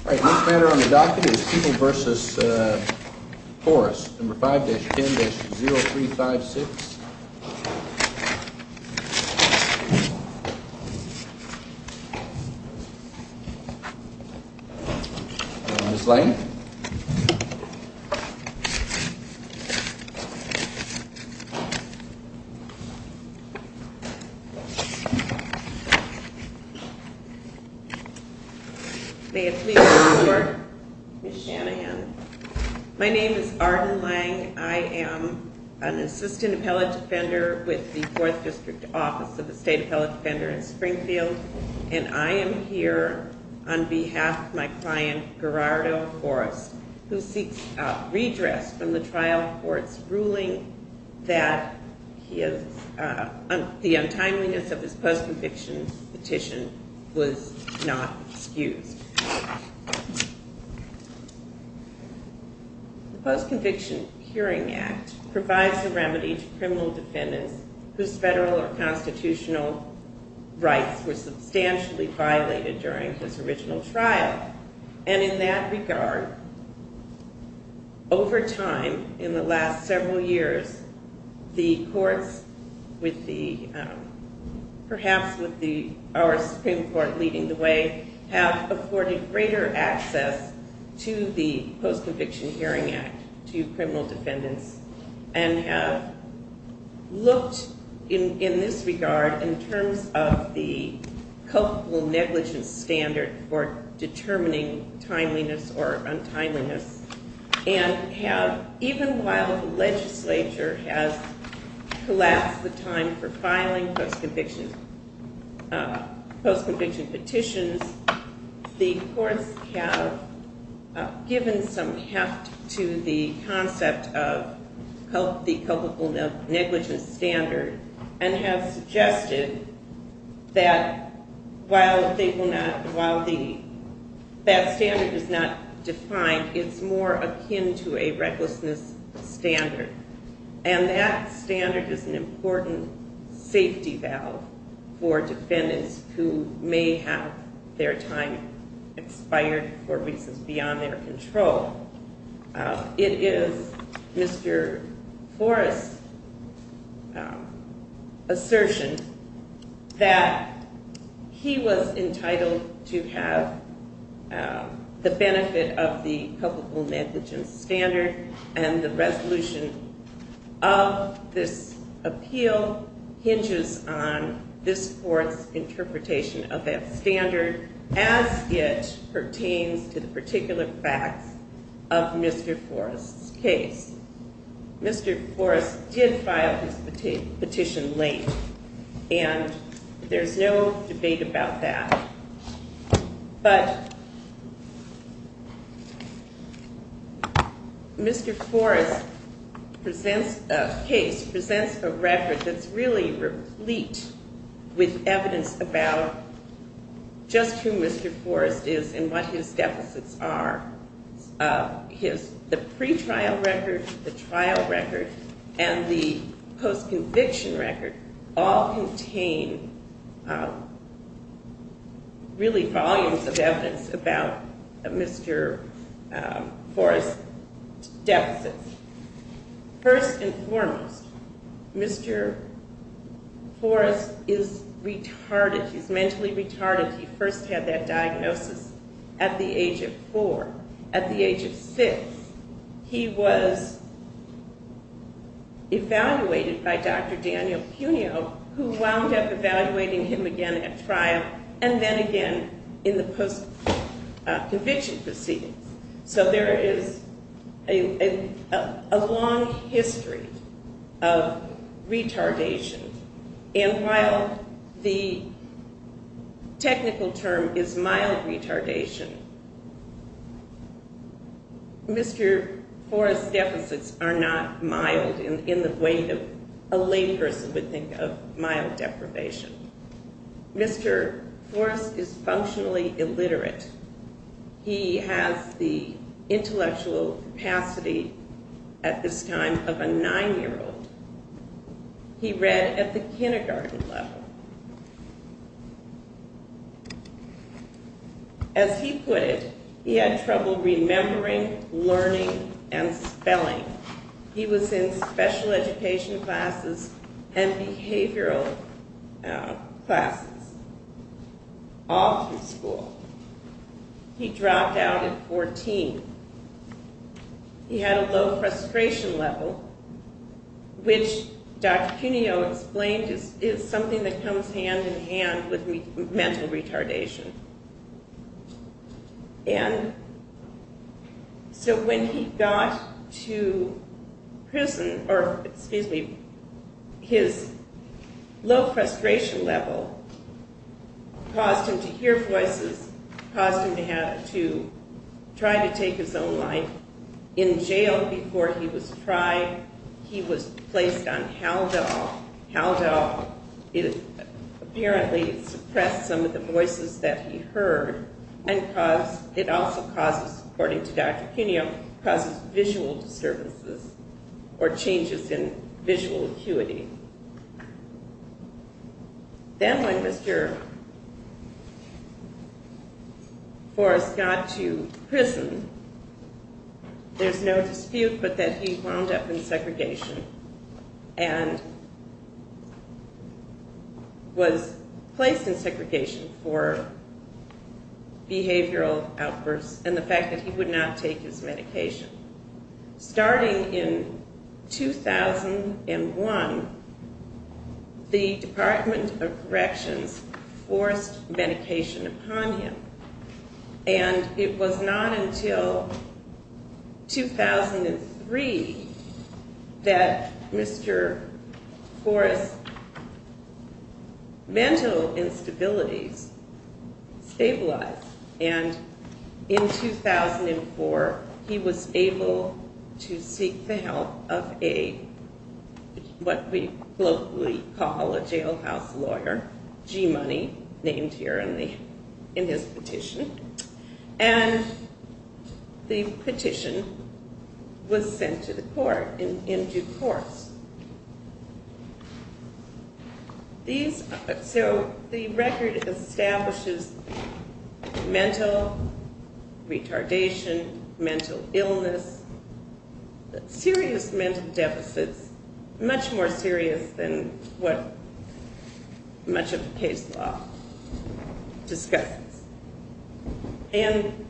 All right, next matter on the docket is People v. Forest, No. 5-10-0356. Ms. Lane? May it please the court, Ms. Shanahan. My name is Arden Lang. I am an assistant appellate defender with the 4th District Office of the State Appellate Defender in Springfield, and I am here on behalf of my client, Gerardo Forest, who seeks redress from the trial court's ruling that the untimeliness of his post-conviction petition was not excused. The Post-Conviction Hearing Act provides a remedy to criminal defendants whose federal or constitutional rights were substantially violated during this original trial, and in that regard, over time, in the last several years, the courts with the, perhaps with our Supreme Court leading the way, have afforded greater access to the Post-Conviction Hearing Act to criminal defendants and have looked, in this regard, in terms of the culpable negligence standard for determining timeliness or untimeliness, and have, even while the legislature has collapsed the time for filing post-conviction petitions, the courts have given some heft to the concept of the culpable negligence standard and have suggested that while they will not, while the, that standard is not defined, it's more akin to a recklessness standard, and that standard is an important safety valve for defendants who may have their time expired for reasons beyond their control. It is Mr. Forrest's assertion that he was entitled to have the benefit of the culpable negligence standard, and the resolution of this appeal hinges on this court's interpretation of that standard as it pertains to the particular facts of Mr. Forrest's case. Mr. Forrest did file his petition late, and there's no debate about that, but Mr. Forrest presents, case, presents a record that's really important and really replete with evidence about just who Mr. Forrest is and what his deficits are. The pretrial record, the trial record, and the post-conviction record all contain really volumes of evidence about Mr. Forrest's deficits. First and foremost, Mr. Forrest's deficits are that Mr. Forrest is retarded, he's mentally retarded. He first had that diagnosis at the age of four. At the age of six, he was evaluated by Dr. Daniel Punio, who wound up evaluating him again at trial and then again in the post-conviction proceedings. So there is a long history of retardation, and while the technical term is mild retardation, Mr. Forrest's deficits are not mild in the way that a lay person would think of mild deprivation. Mr. Forrest is functionally illiterate. He has the intellectual capacity at this time of a nine-year-old. He read at the kindergarten level. As he put it, he had trouble remembering, learning, and spelling. He was in special education classes and behavioral classes, all through school. He dropped out at 14. He had a low frustration level, which Dr. Punio described as something that comes hand-in-hand with mental retardation. So when he got to prison, or excuse me, his low frustration level caused him to hear voices, caused him to try to take his own life. In jail before he was tried, he was placed on Haldol. Haldol apparently suppressed some of the voices that he heard. It also causes, according to Dr. Punio, causes visual disturbances or changes in visual acuity. Then when Mr. Forrest got to prison, he was released. There's no dispute but that he wound up in segregation and was placed in segregation for behavioral outbursts and the fact that he would not take his medication. Starting in 2001, the Department of Corrections forced medication upon him, and it was not until 2003 that Mr. Forrest's mental instabilities stabilized, and in 2004 he was able to seek the help of what we locally call a jailhouse lawyer, G-Money, named here in his petition. And the petition was sent to the court in due course. So the record establishes mental retardation, mental illness, serious mental deficits, much more serious than what much of the case law discusses. And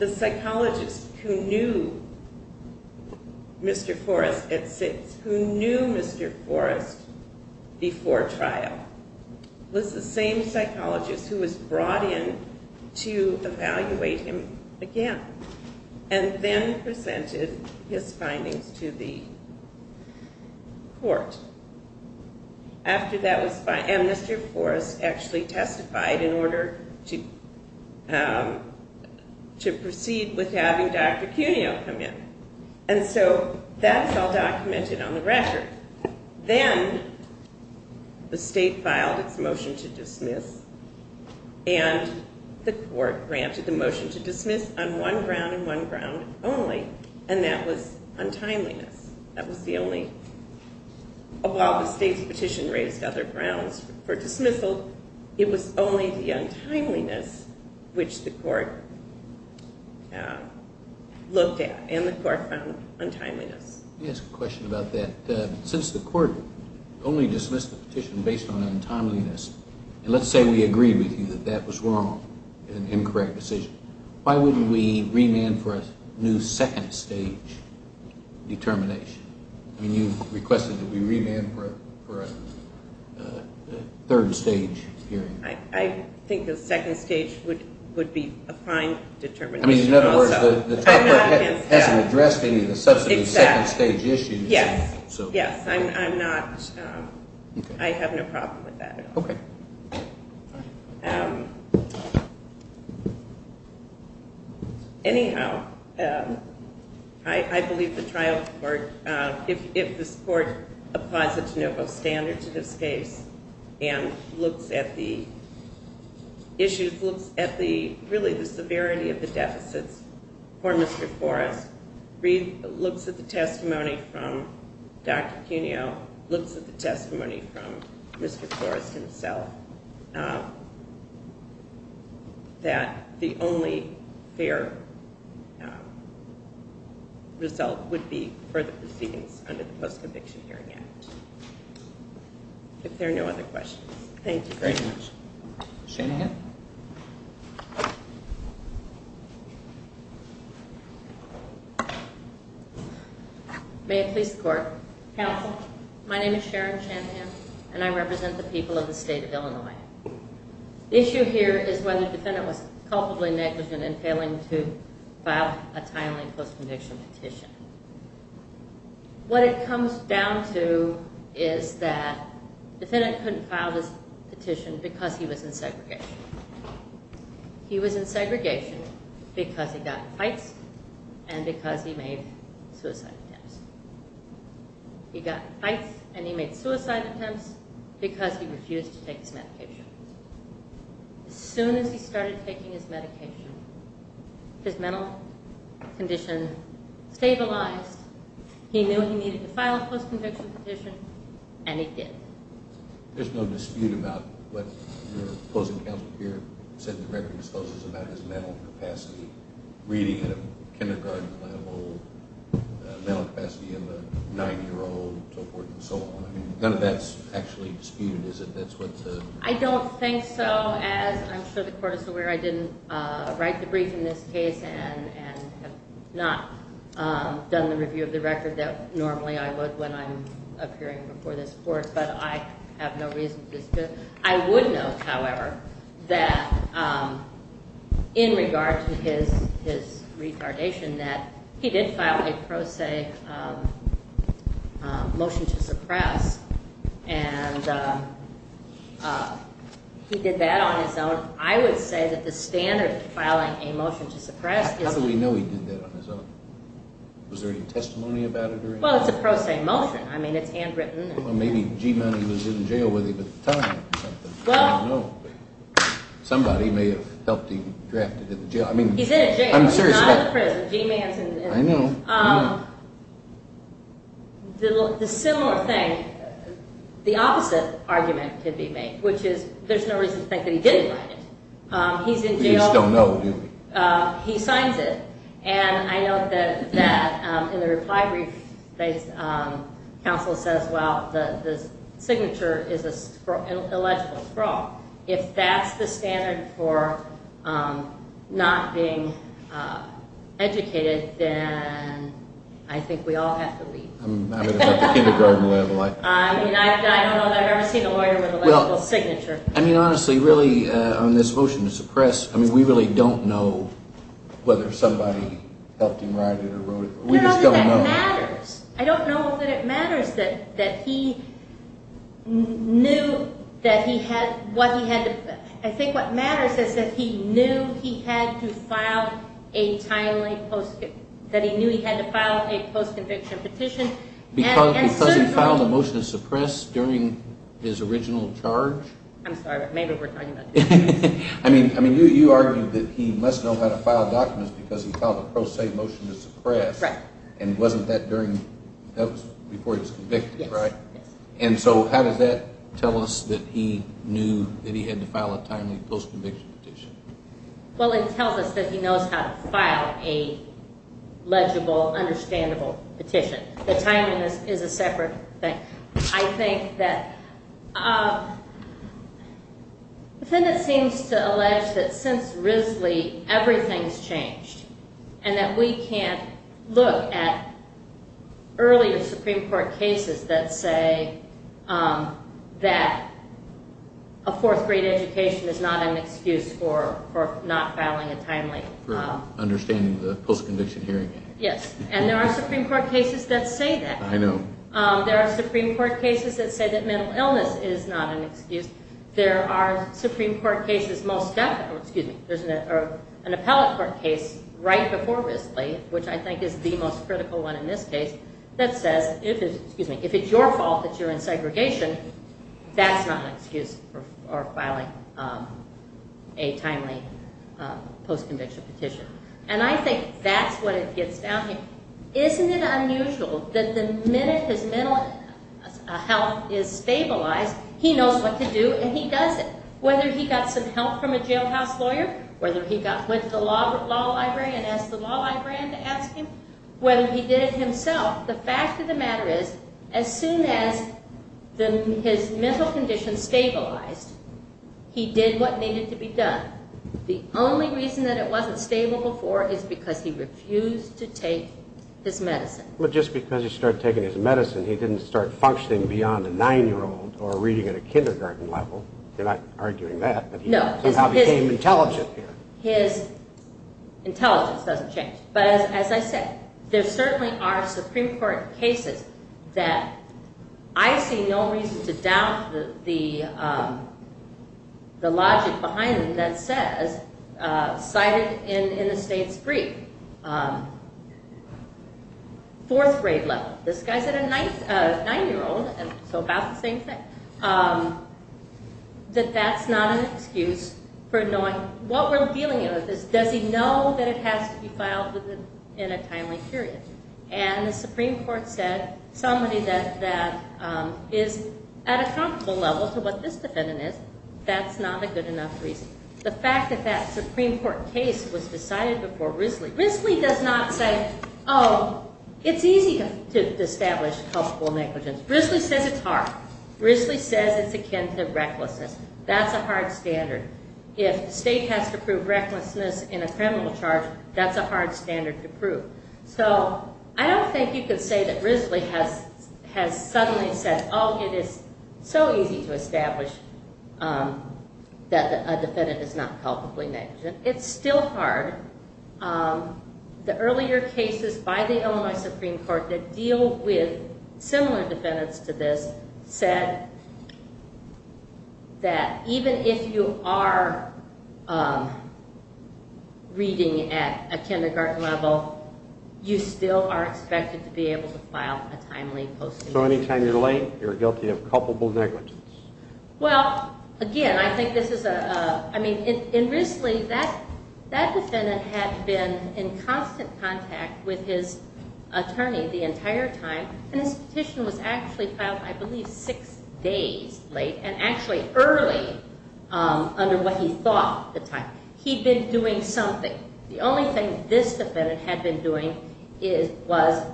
the psychologist who knew Mr. Forrest at six, who knew Mr. Forrest before trial, was the same psychologist who was brought in to evaluate him again and then presented his findings to the court. And Mr. Forrest actually testified in order to proceed with having Dr. Punio come in. And so that's all documented on the record. Then the state filed its motion to dismiss and the court granted the motion to dismiss on one ground and one ground only, and that was untimeliness. That was the only... While the state's petition raised other grounds for dismissal, it was only the untimeliness which the court looked at, and the court found untimeliness. Let me ask a question about that. Since the court only dismissed the petition based on the evidence, why can't we remand for a new second stage determination? I mean, you requested that we remand for a third stage hearing. I think a second stage would be a fine determination. I mean, in other words, the trial court hasn't addressed any of the subsequent second stage issues. Yes, yes. I'm not... I have no problem with that at all. Anyhow, I believe the trial court, if this court applies a de novo standard to this case and looks at the issues, looks at the, really the severity of the deficits for Mr. Forrest, looks at the testimony from Dr. Punio, looks at the testimony from Mr. Forrest himself, that the only fair result would be further proceedings under the Post-Conviction Hearing Act. If there are no other questions. Thank you very much. Sharon Shanahan. May it please the court. Counsel. My name is Sharon Shanahan, and I live in Illinois. The issue here is whether the defendant was culpably negligent in failing to file a timely post-conviction petition. What it comes down to is that defendant couldn't file this petition because he was in segregation. He was in segregation because he got in fights and because he made suicide attempts. He got in fights and he made suicide attempts because he refused to take his medication. As soon as he started taking his medication, his mental condition stabilized. He knew he needed to file a post-conviction petition, and he did. There's no dispute about what your opposing counsel here said at the record of disclosures about his mental capacity, reading at a kindergarten level, mental capacity of a 90-year-old, and so on. None of that's actually disputed, is it? I don't think so. I'm sure the court is aware I didn't write the brief in this case and have not done the review of the record that normally I would when I'm appearing before this court, but I have no reason to dispute. I would note, however, that in regard to his retardation, that he did file a pro se motion to suppress, and he did that on his own. I would say that the standard for filing a motion to suppress is- How do we know he did that on his own? Was there any testimony about it or anything? Well, it's a pro se motion. I mean, it's handwritten. Well, maybe G-Man was in jail with him at the time or something. I don't know. Somebody may have helped him draft it in the jail. I mean- He's in a jail. He's not in prison. G-Man's in- I know. The similar thing, the opposite argument could be made, which is there's no reason to think that he didn't write it. He's in jail. We just don't know, do we? He signs it, and I note that in the reply brief, counsel says, well, the signature is an illegible scrawl. If that's the standard for not being educated, then I think we all have to leave. I mean, I've never seen a lawyer with an illegible signature. I mean, honestly, really, on this motion to suppress, I mean, we really don't know whether somebody helped him write it or wrote it. We just don't know. I don't know that it matters. I don't know that it matters that he knew that he had- what he had to- I think what matters is that he knew he had to file a timely post-conviction- that he knew he had to file a post-conviction petition. Because he filed a motion to suppress during his original charge? I'm sorry, but maybe we're talking about- I mean, you argued that he must know how to file documents because he filed a pro se motion to suppress, and wasn't that during- that was before he was convicted, right? And so how does that tell us that he knew that he had to file a timely post-conviction petition? Well, it tells us that he knows how to file a legible, understandable petition. The timing is a separate thing. I think that- the defendant seems to allege that since Risley, everything's changed, and that we can't look at earlier Supreme Court cases that say that a fourth grade education is not an excuse for not filing a timely- Understanding the post-conviction hearing. Yes, and there are Supreme Court cases that say that. I know. There are Supreme Court cases that say that mental illness is not an excuse. There are Supreme Court cases most- excuse me, there's an appellate court case right before Risley, which I think is the most critical one in this case, that says if it's- excuse me, if it's your fault that you're in segregation, that's not an excuse for filing a timely post-conviction petition. And I think that's what it gets down to. Isn't it unusual that the minute his mental health is stabilized, he knows what to do and he does it. Whether he got some help from a jailhouse lawyer, whether he went to the law library and asked the law librarian to ask him, whether he did it himself, the fact of the matter is, as soon as his mental condition stabilized, he did what needed to be done. The only reason that it wasn't stable before is because he refused to take his medicine. But just because he started taking his medicine, he didn't start functioning beyond a nine-year-old or reading at a kindergarten level. You're not arguing that, but he somehow became intelligent. His intelligence doesn't change. But as I said, there certainly are Supreme Court cases that I see no reason to doubt the logic behind them that says, cited in the state's brief, fourth grade level, this guy's at a nine-year-old, so about the same thing, that that's not an excuse for knowing- what we're dealing with is, does he know that it has to be filed in a timely period? And the Supreme Court said, somebody that is at a comparable level to what this defendant is, that's not a good enough reason. The fact that that Supreme Court case was decided before Risley- Risley does not say, oh, it's easy to establish culpable negligence. Risley says it's hard. Risley says it's akin to recklessness. That's a hard standard. If the state has to prove recklessness in a criminal charge, that's a hard standard to prove. So I don't think you can say that Risley has suddenly said, oh, it is so easy to establish that a defendant is not culpably negligent. It's still hard. The earlier cases by the Illinois Supreme Court that deal with similar defendants to this said that even if you are reading at a kindergarten level, you still are expected to be able to file a timely posting. So anytime you're late, you're guilty of culpable negligence. Well, again, I think this is a- I mean, in Risley, that defendant had been in constant contact with his attorney the entire time, and his petition was actually filed, I believe, six days late and actually early under what he thought at the time. He'd been doing something. The only thing this defendant had been doing was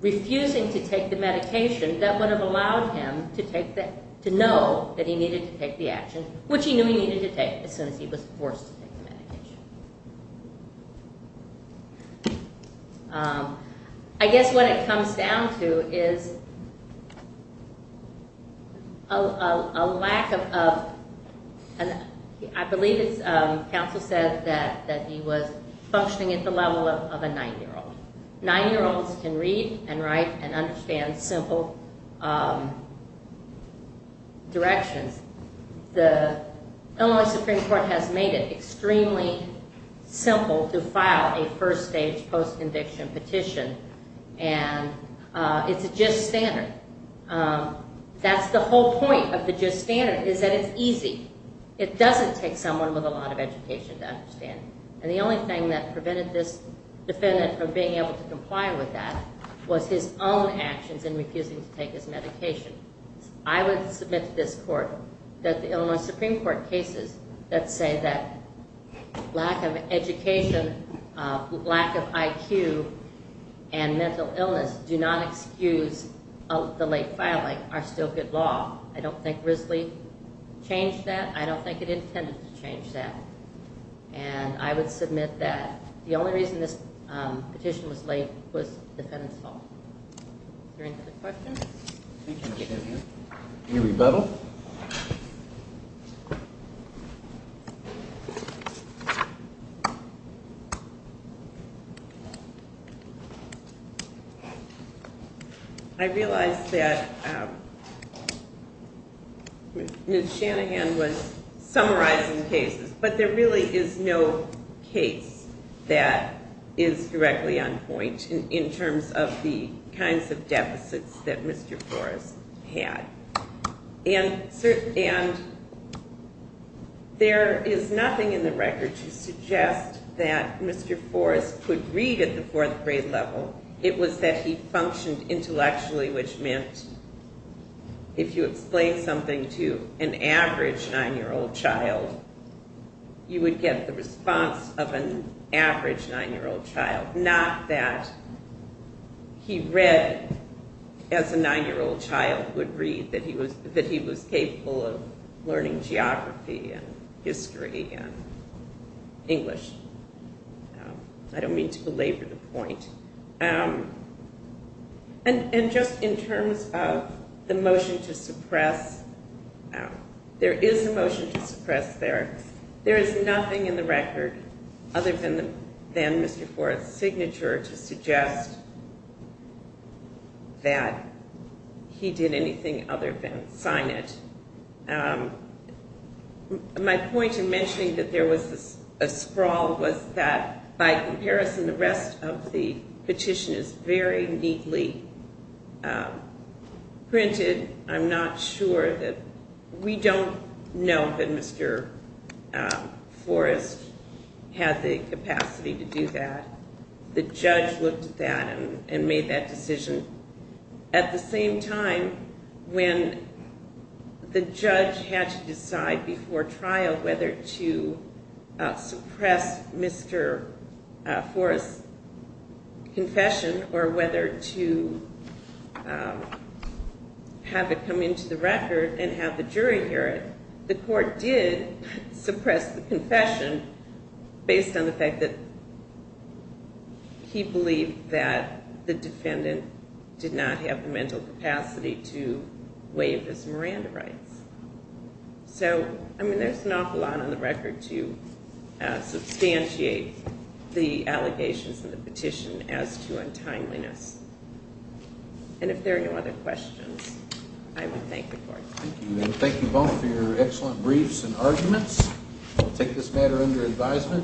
refusing to take the medication that would have allowed him to take the- to know that he needed to take the action, which he knew he needed to take as soon as he was forced to take the medication. I guess what it comes down to is a lack of- I believe it's- counsel said that he was functioning at the level of a nine-year-old. Nine-year-olds can read and write and understand simple directions. The Illinois Supreme Court has made it extremely simple to file a first-stage post-conviction petition, and it's a just standard. That's the whole point of the just standard, is that it's easy. It doesn't take someone with a lot of education to understand. And the only thing that prevented this defendant from being able to comply with that was his own actions in refusing to take his medication. I would submit to this court that the Illinois Supreme Court cases that say that lack of education, lack of IQ, and mental illness do not excuse the late filing are still good law. I don't think Risley changed that. I don't think it intended to change that. And I would submit that the only reason this petition was late was the defendant's fault. Is there any other questions? Any rebuttal? I realize that Ms. Shanahan was summarizing cases, but there really is no case that is directly on point in terms of the kinds of deficits that Mr. Forrest had. And there is nothing in the record to suggest that Mr. Forrest could read at the fourth grade level. It was that he functioned intellectually, which meant if you explained something to an average nine-year-old child, you would get the response of an average nine-year-old child, not that he read as a nine-year-old child would read, that he was capable of learning geography and history and English. I don't mean to belabor the point. And just in terms of the motion to suppress, there is a motion to suppress there. There is nothing in the record other than Mr. Forrest's signature to suggest that he did anything other than sign it. My point in mentioning that there was a sprawl was that by comparison, the rest of the petition is very neatly printed. I'm not sure that we don't know that Mr. Forrest had the capacity to do that. The judge looked at that and made that decision. At the same time, when the judge had to decide before trial whether to suppress Mr. Forrest's confession or whether to have it come into the record and have the jury hear it, the court did suppress the confession based on the fact that he believed that the defendant did not have the mental capacity to waive his Miranda rights. So, I mean, there's an awful lot on the record to substantiate the allegations in the petition as to untimeliness. And if there are no other Thank you both for your excellent briefs and arguments. We'll take this matter under advisement.